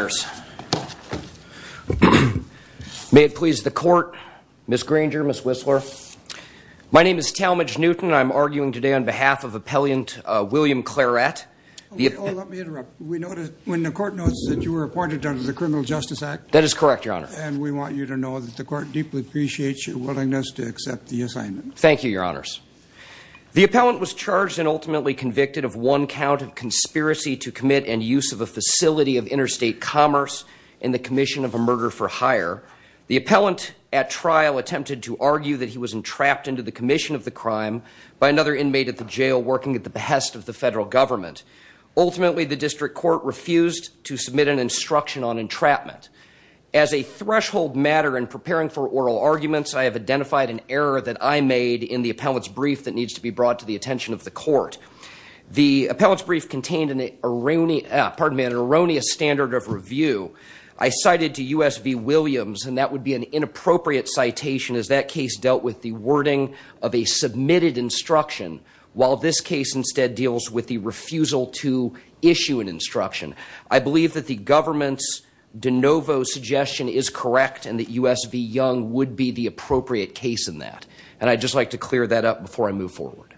May it please the court, Ms. Granger, Ms. Whistler. My name is Talmadge Newton. I'm arguing today on behalf of Appellant William Clarett. Let me interrupt. We know that when the court knows that you were appointed under the Criminal Justice Act. That is correct, your honor. And we want you to know that the court deeply appreciates your willingness to accept the assignment. Thank you, your honors. The appellant was charged and ultimately convicted of one count of conspiracy to commit and use of a facility of interstate commerce in the commission of a murder for hire. The appellant at trial attempted to argue that he was entrapped into the commission of the crime by another inmate at the jail working at the behest of the federal government. Ultimately, the district court refused to submit an instruction on entrapment. As a threshold matter in preparing for oral arguments, I have identified an error that I made in the appellant's brief that needs to be brought to the attention of the court. The appellant's brief contained an erroneous standard of review. I cited to U.S. v. Williams and that would be an inappropriate citation as that case dealt with the wording of a submitted instruction. While this case instead deals with the refusal to issue an instruction. I believe that the government's de novo suggestion is correct and that U.S. v. Young would be the appropriate case in that. And I'd just like to clear that up before I move forward.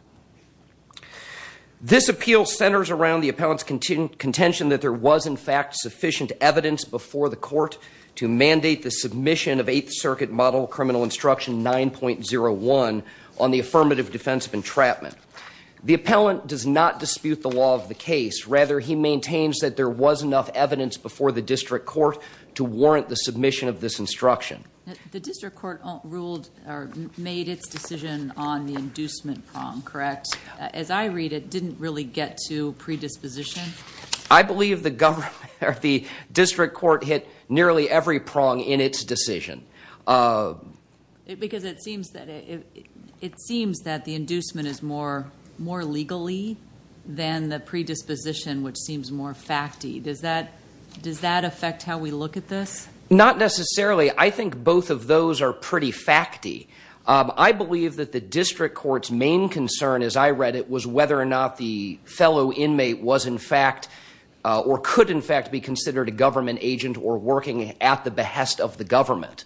This appeal centers around the appellant's contention that there was in fact sufficient evidence before the court to mandate the submission of Eighth Circuit model criminal instruction 9.01 on the affirmative defense of entrapment. The appellant does not dispute the law of the case. Rather, he maintains that there was enough evidence before the district court to warrant the submission of this instruction. The district court ruled or made its decision on the inducement prong, correct? As I read it, didn't really get to predisposition? I believe the district court hit nearly every prong in its decision. Because it seems that the inducement is more legally than the predisposition, which seems more facty. Does that affect how we look at this? Not necessarily. I think both of those are pretty facty. I believe that the district court's main concern, as I read it, was whether or not the fellow inmate was in fact or could in fact be considered a government agent or working at the behest of the government.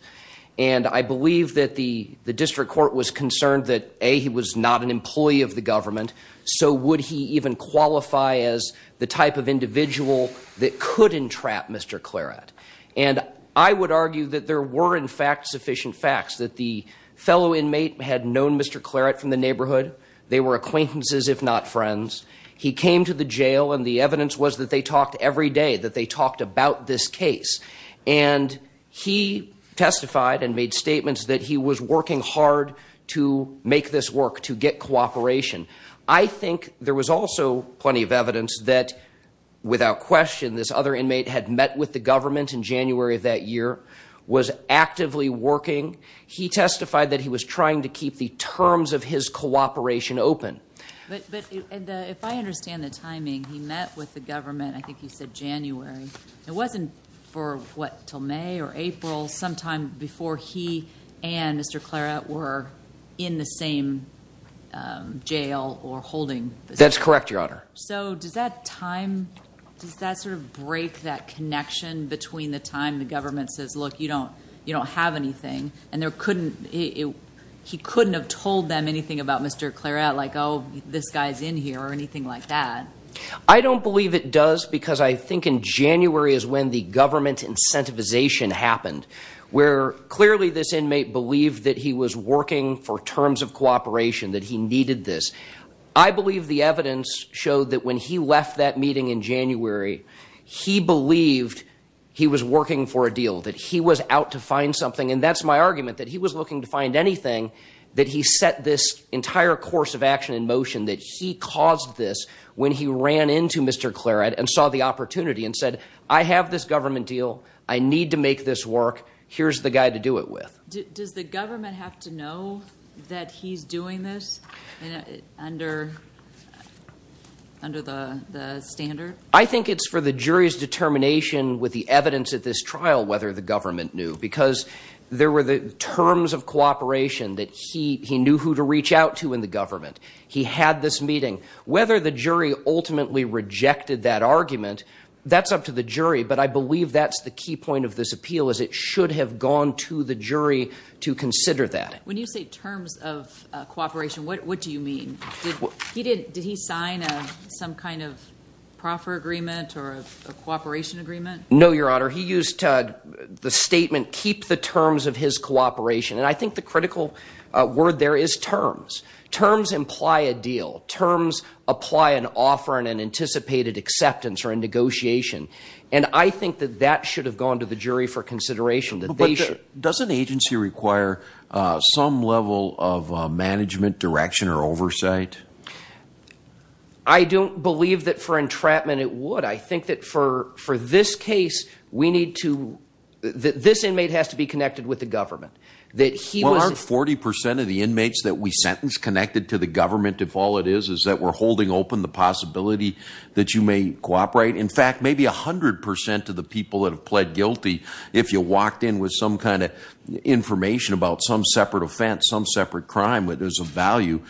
And I believe that the district court was concerned that, A, he was not an employee of the government. So would he even qualify as the type of individual that could entrap Mr. Claret? And I would argue that there were, in fact, sufficient facts that the fellow inmate had known Mr. Claret from the neighborhood. They were acquaintances, if not friends. He came to the jail, and the evidence was that they talked every day, that they talked about this case. And he testified and made statements that he was working hard to make this work, to get cooperation. I think there was also plenty of evidence that, without question, this other inmate had met with the government in January of that year, was actively working. He testified that he was trying to keep the terms of his cooperation open. But if I understand the timing, he met with the government, I think you said January. It wasn't for, what, until May or April, sometime before he and Mr. Claret were in the same jail or holding position? That's correct, Your Honor. So does that time – does that sort of break that connection between the time the government says, look, you don't have anything, and there couldn't – he couldn't have told them anything about Mr. Claret? Like, oh, this guy's in here, or anything like that. I don't believe it does, because I think in January is when the government incentivization happened, where clearly this inmate believed that he was working for terms of cooperation, that he needed this. I believe the evidence showed that when he left that meeting in January, he believed he was working for a deal, that he was out to find something. And that's my argument, that he was looking to find anything, that he set this entire course of action in motion, that he caused this when he ran into Mr. Claret and saw the opportunity and said, I have this government deal, I need to make this work, here's the guy to do it with. Does the government have to know that he's doing this under the standard? I think it's for the jury's determination with the evidence at this trial whether the government knew. Because there were the terms of cooperation that he knew who to reach out to in the government. He had this meeting. Whether the jury ultimately rejected that argument, that's up to the jury. But I believe that's the key point of this appeal, is it should have gone to the jury to consider that. When you say terms of cooperation, what do you mean? Did he sign some kind of proffer agreement or a cooperation agreement? No, Your Honor. He used the statement, keep the terms of his cooperation. And I think the critical word there is terms. Terms imply a deal. Terms apply an offer and an anticipated acceptance or a negotiation. And I think that that should have gone to the jury for consideration. Does an agency require some level of management, direction, or oversight? I don't believe that for entrapment it would. I think that for this case, this inmate has to be connected with the government. Well, aren't 40% of the inmates that we sentence connected to the government if all it is is that we're holding open the possibility that you may cooperate? In fact, maybe 100% of the people that have pled guilty, if you walked in with some kind of information about some separate offense, some separate crime that is of value,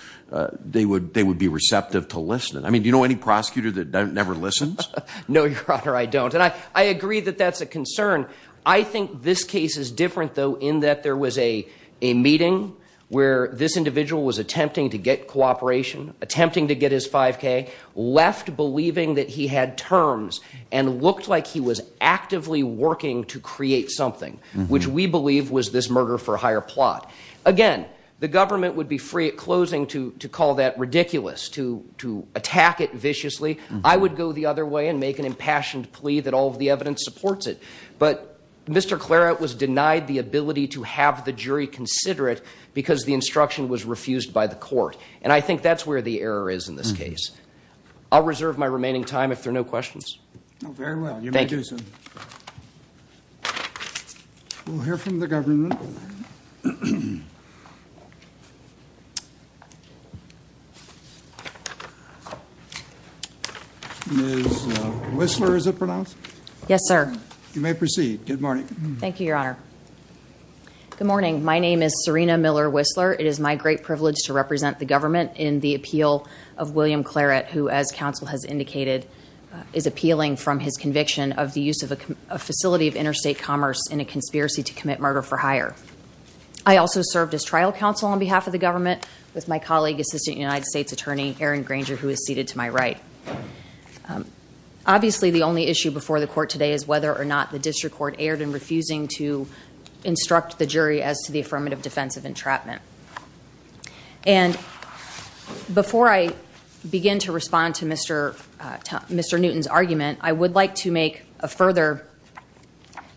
they would be receptive to listening. I mean, do you know any prosecutor that never listens? No, Your Honor, I don't. And I agree that that's a concern. I think this case is different, though, in that there was a meeting where this individual was attempting to get cooperation, attempting to get his 5K, left believing that he had terms and looked like he was actively working to create something, which we believe was this murder-for-hire plot. Again, the government would be free at closing to call that ridiculous, to attack it viciously. I would go the other way and make an impassioned plea that all of the evidence supports it. But Mr. Clairaut was denied the ability to have the jury consider it because the instruction was refused by the court. And I think that's where the error is in this case. I'll reserve my remaining time if there are no questions. Very well. You may do so. Thank you. We'll hear from the government. Ms. Whistler, is it pronounced? Yes, sir. You may proceed. Good morning. Thank you, Your Honor. Good morning. My name is Serena Miller Whistler. It is my great privilege to represent the government in the appeal of William Clairaut, who, as counsel has indicated, is appealing from his conviction of the use of a facility of interstate commerce in a conspiracy to commit murder-for-hire. I also served as trial counsel on behalf of the government with my colleague, Assistant United States Attorney Aaron Granger, who is seated to my right. Obviously, the only issue before the court today is whether or not the district court erred in refusing to instruct the jury as to the affirmative defense of entrapment. And before I begin to respond to Mr. Newton's argument, I would like to make a further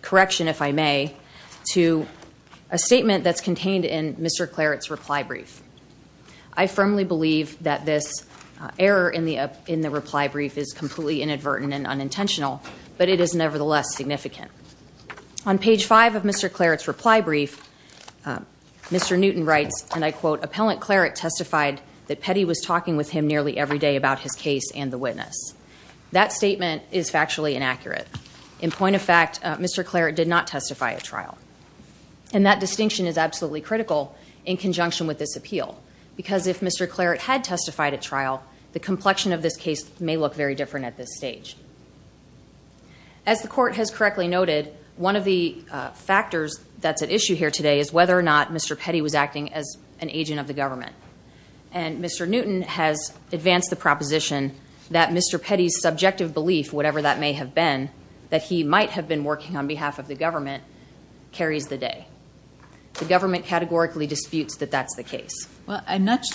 correction, if I may, to a statement that's contained in Mr. Clairaut's reply brief. I firmly believe that this error in the reply brief is completely inadvertent and unintentional, but it is nevertheless significant. On page 5 of Mr. Clairaut's reply brief, Mr. Newton writes, and I quote, Appellant Clairaut testified that Petty was talking with him nearly every day about his case and the witness. That statement is factually inaccurate. In point of fact, Mr. Clairaut did not testify at trial. And that distinction is absolutely critical in conjunction with this appeal. Because if Mr. Clairaut had testified at trial, the complexion of this case may look very different at this stage. As the court has correctly noted, one of the factors that's at issue here today is whether or not Mr. Petty was acting as an agent of the government. And Mr. Newton has advanced the proposition that Mr. Petty's subjective belief, whatever that may have been, that he might have been working on behalf of the government, carries the day. The government categorically disputes that that's the case. Well, I'm not,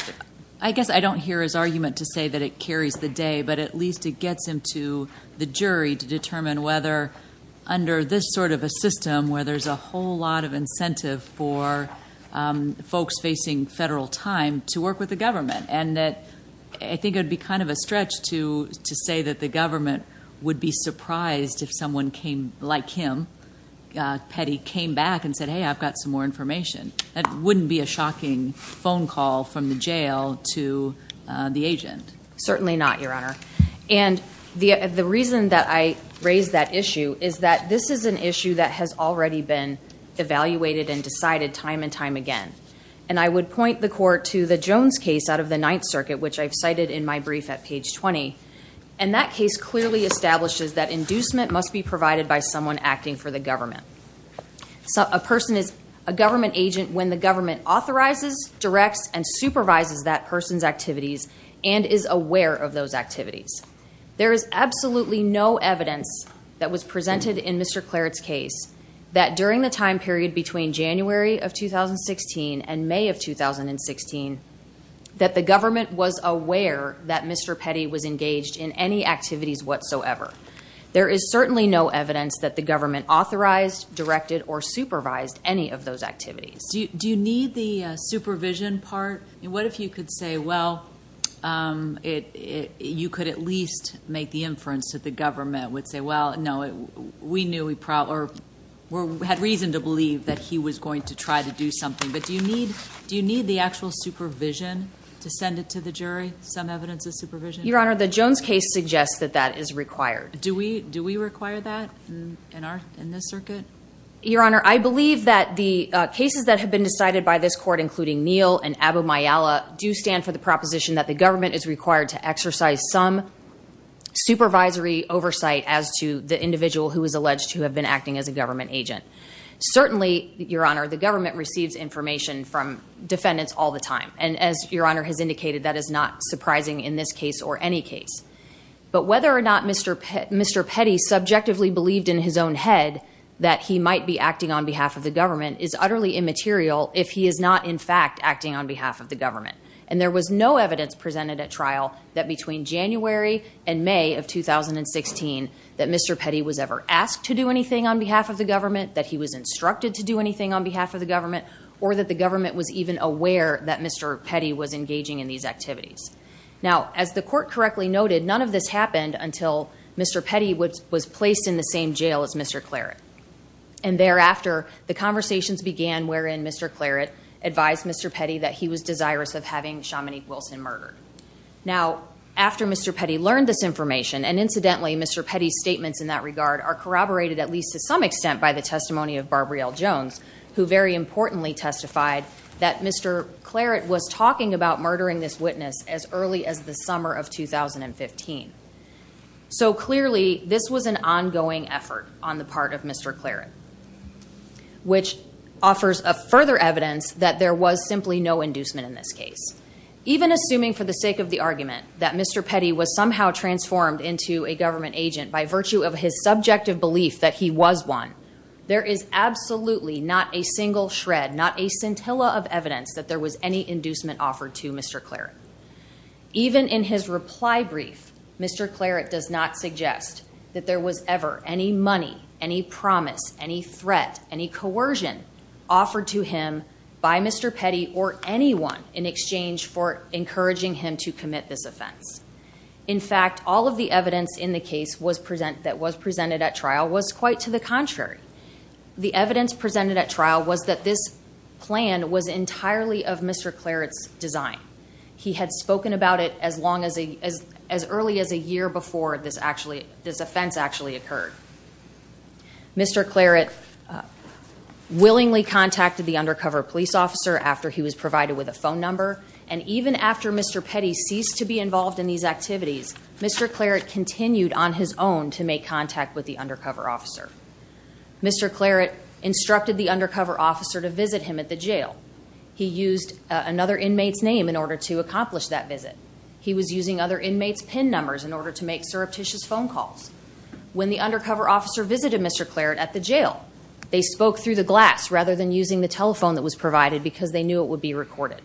I guess I don't hear his argument to say that it carries the day, but at least it gets him to the jury to determine whether, under this sort of a system, where there's a whole lot of incentive for folks facing federal time to work with the government. And I think it would be kind of a stretch to say that the government would be surprised if someone came, like him, Petty, came back and said, hey, I've got some more information. That wouldn't be a shocking phone call from the jail to the agent. Certainly not, Your Honor. And the reason that I raise that issue is that this is an issue that has already been evaluated and decided time and time again. And I would point the court to the Jones case out of the Ninth Circuit, which I've cited in my brief at page 20. And that case clearly establishes that inducement must be provided by someone acting for the government. A person is a government agent when the government authorizes, directs, and supervises that person's activities and is aware of those activities. There is absolutely no evidence that was presented in Mr. Claret's case that, during the time period between January of 2016 and May of 2016, that the government was aware that Mr. Petty was engaged in any activities whatsoever. There is certainly no evidence that the government authorized, directed, or supervised any of those activities. Do you need the supervision part? What if you could say, well, you could at least make the inference that the government would say, well, no, we knew we had reason to believe that he was going to try to do something. But do you need the actual supervision to send it to the jury, some evidence of supervision? Your Honor, the Jones case suggests that that is required. Do we require that in this circuit? Your Honor, I believe that the cases that have been decided by this court, including Neal and Aboumayala, do stand for the proposition that the government is required to exercise some supervisory oversight as to the individual who is alleged to have been acting as a government agent. Certainly, Your Honor, the government receives information from defendants all the time. And as Your Honor has indicated, that is not surprising in this case or any case. But whether or not Mr. Petty subjectively believed in his own head that he might be acting on behalf of the government is utterly immaterial if he is not, in fact, acting on behalf of the government. And there was no evidence presented at trial that between January and May of 2016, that Mr. Petty was ever asked to do anything on behalf of the government, that he was instructed to do anything on behalf of the government, or that the government was even aware that Mr. Petty was engaging in these activities. Now, as the court correctly noted, none of this happened until Mr. Petty was placed in the same jail as Mr. Claret. And thereafter, the conversations began wherein Mr. Claret advised Mr. Petty that he was desirous of having Shamanique Wilson murdered. Now, after Mr. Petty learned this information, and incidentally, Mr. Petty's statements in that regard are corroborated at least to some extent by the testimony of Barbara L. Jones, who very importantly testified that Mr. Claret was talking about murdering this witness as early as the summer of 2015. So clearly, this was an ongoing effort on the part of Mr. Claret, which offers further evidence that there was simply no inducement in this case. Even assuming for the sake of the argument that Mr. Petty was somehow transformed into a government agent by virtue of his subjective belief that he was one, there is absolutely not a single shred, not a scintilla of evidence that there was any inducement offered to Mr. Claret. Even in his reply brief, Mr. Claret does not suggest that there was ever any money, any promise, any threat, any coercion offered to him by Mr. Petty or anyone in exchange for encouraging him to commit this offense. In fact, all of the evidence in the case that was presented at trial was quite to the contrary. The evidence presented at trial was that this plan was entirely of Mr. Claret's design. He had spoken about it as early as a year before this offense actually occurred. Mr. Claret willingly contacted the undercover police officer after he was provided with a phone number, and even after Mr. Petty ceased to be involved in these activities, Mr. Claret continued on his own to make contact with the undercover officer. Mr. Claret instructed the undercover officer to visit him at the jail. He used another inmate's name in order to accomplish that visit. He was using other inmates' PIN numbers in order to make surreptitious phone calls. When the undercover officer visited Mr. Claret at the jail, they spoke through the glass rather than using the telephone that was provided because they knew it would be recorded.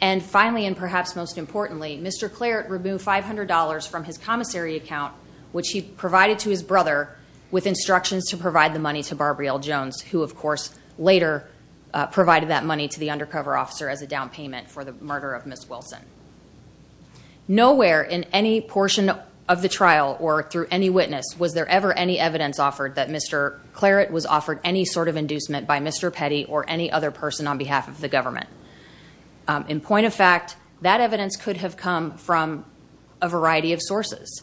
And finally, and perhaps most importantly, Mr. Claret removed $500 from his commissary account, which he provided to his brother with instructions to provide the money to Barbrielle Jones, who, of course, later provided that money to the undercover officer as a down payment for the murder of Ms. Wilson. Nowhere in any portion of the trial or through any witness was there ever any evidence offered that Mr. Claret was offered any sort of inducement by Mr. Petty or any other person on behalf of the government. In point of fact, that evidence could have come from a variety of sources.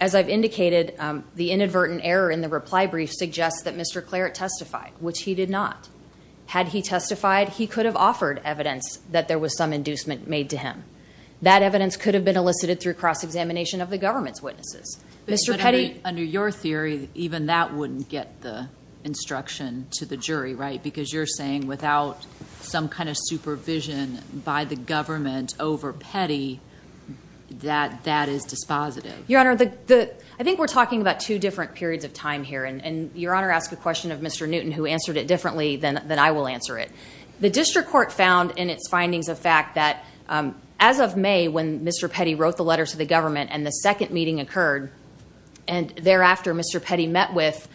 As I've indicated, the inadvertent error in the reply brief suggests that Mr. Claret testified, which he did not. Had he testified, he could have offered evidence that there was some inducement made to him. That evidence could have been elicited through cross-examination of the government's witnesses. But under your theory, even that wouldn't get the instruction to the jury, right? Because you're saying without some kind of supervision by the government over Petty, that that is dispositive. Your Honor, I think we're talking about two different periods of time here. And Your Honor asked a question of Mr. Newton, who answered it differently than I will answer it. The district court found in its findings of fact that as of May, when Mr. Petty wrote the letter to the government and the second meeting occurred, and thereafter Mr. Petty met with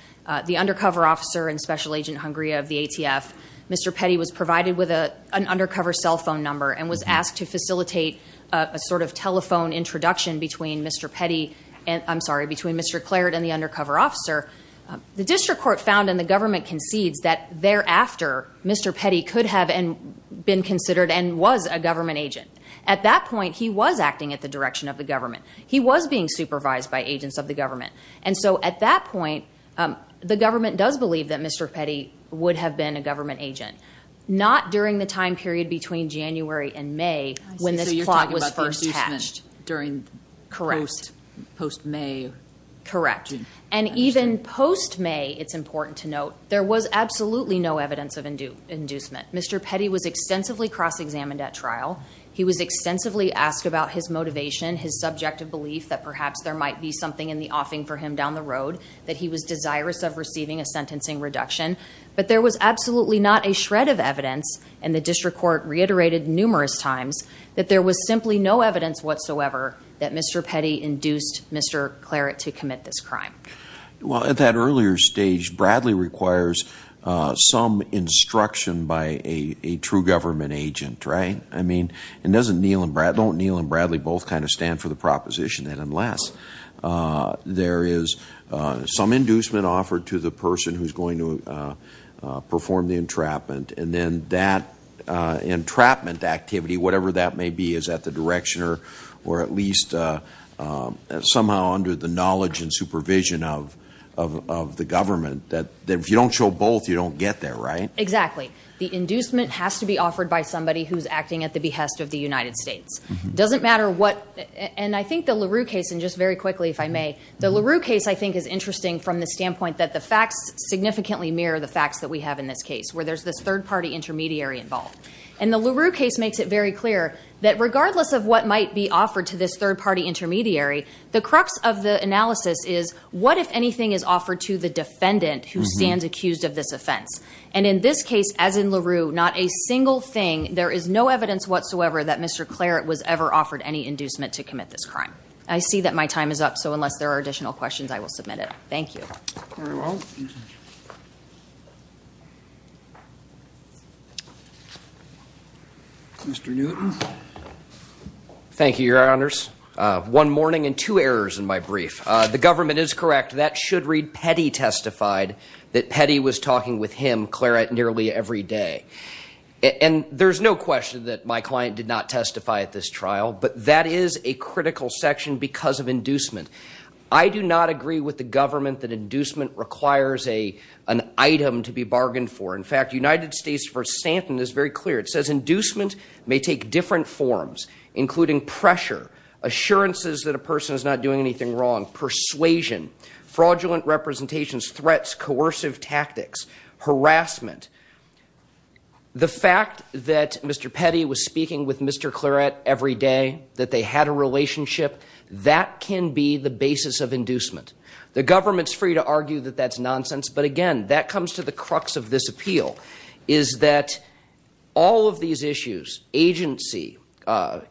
the undercover officer and special agent Hungria of the ATF, Mr. Petty was provided with an undercover cell phone number and was asked to facilitate a sort of telephone introduction between Mr. Petty, I'm sorry, between Mr. Claret and the undercover officer. The district court found and the government concedes that thereafter, Mr. Petty could have been considered and was a government agent. At that point, he was acting at the direction of the government. He was being supervised by agents of the government. And so at that point, the government does believe that Mr. Petty would have been a government agent, not during the time period between January and May when this plot was first hatched. So you're talking about the inducement during post-May? Correct. And even post-May, it's important to note, there was absolutely no evidence of inducement. Mr. Petty was extensively cross-examined at trial. He was extensively asked about his motivation, his subjective belief that perhaps there might be something in the offing for him down the road, that he was desirous of receiving a sentencing reduction. But there was absolutely not a shred of evidence, and the district court reiterated numerous times, that there was simply no evidence whatsoever that Mr. Petty induced Mr. Claret to commit this crime. Well, at that earlier stage, Bradley requires some instruction by a true government agent, right? I mean, don't Neal and Bradley both kind of stand for the proposition that unless there is some inducement offered to the person who's going to perform the entrapment, and then that entrapment activity, whatever that may be, is at the direction or at least somehow under the knowledge and supervision of the government, that if you don't show both, you don't get there, right? Exactly. The inducement has to be offered by somebody who's acting at the behest of the United States. It doesn't matter what – and I think the LaRue case, and just very quickly, if I may, the LaRue case I think is interesting from the standpoint that the facts significantly mirror the facts that we have in this case, where there's this third-party intermediary involved. And the LaRue case makes it very clear that regardless of what might be offered to this third-party intermediary, the crux of the analysis is, what if anything is offered to the defendant who stands accused of this offense? And in this case, as in LaRue, not a single thing, there is no evidence whatsoever that Mr. Claret was ever offered any inducement to commit this crime. I see that my time is up, so unless there are additional questions, I will submit it. Thank you. Very well. Mr. Newton. Thank you, Your Honors. One morning and two errors in my brief. The government is correct. That should read Petty testified that Petty was talking with him, Claret, nearly every day. And there's no question that my client did not testify at this trial, but that is a critical section because of inducement. I do not agree with the government that inducement requires an item to be bargained for. In fact, United States v. Stanton is very clear. It says inducement may take different forms, including pressure, assurances that a person is not doing anything wrong, persuasion, fraudulent representations, threats, coercive tactics, harassment. The fact that Mr. Petty was speaking with Mr. Claret every day, that they had a relationship, that can be the basis of inducement. The government's free to argue that that's nonsense, but again, that comes to the crux of this appeal, is that all of these issues, agency,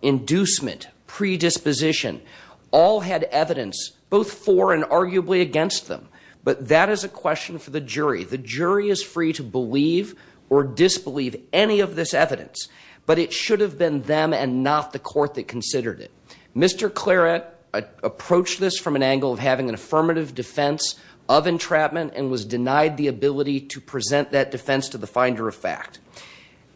inducement, predisposition, all had evidence both for and arguably against them. But that is a question for the jury. The jury is free to believe or disbelieve any of this evidence, but it should have been them and not the court that considered it. Mr. Claret approached this from an angle of having an affirmative defense of entrapment and was denied the ability to present that defense to the finder of fact.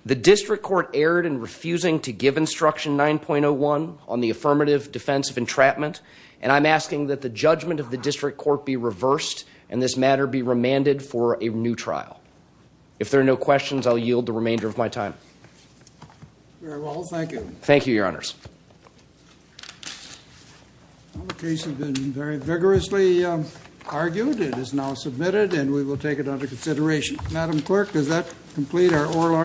The district court erred in refusing to give instruction 9.01 on the affirmative defense of entrapment, and I'm asking that the judgment of the district court be reversed and this matter be remanded for a new trial. If there are no questions, I'll yield the remainder of my time. Very well, thank you. Thank you, Your Honors. Well, the case has been very vigorously argued. It is now submitted and we will take it under consideration. Madam Clerk, does that complete our oral argument?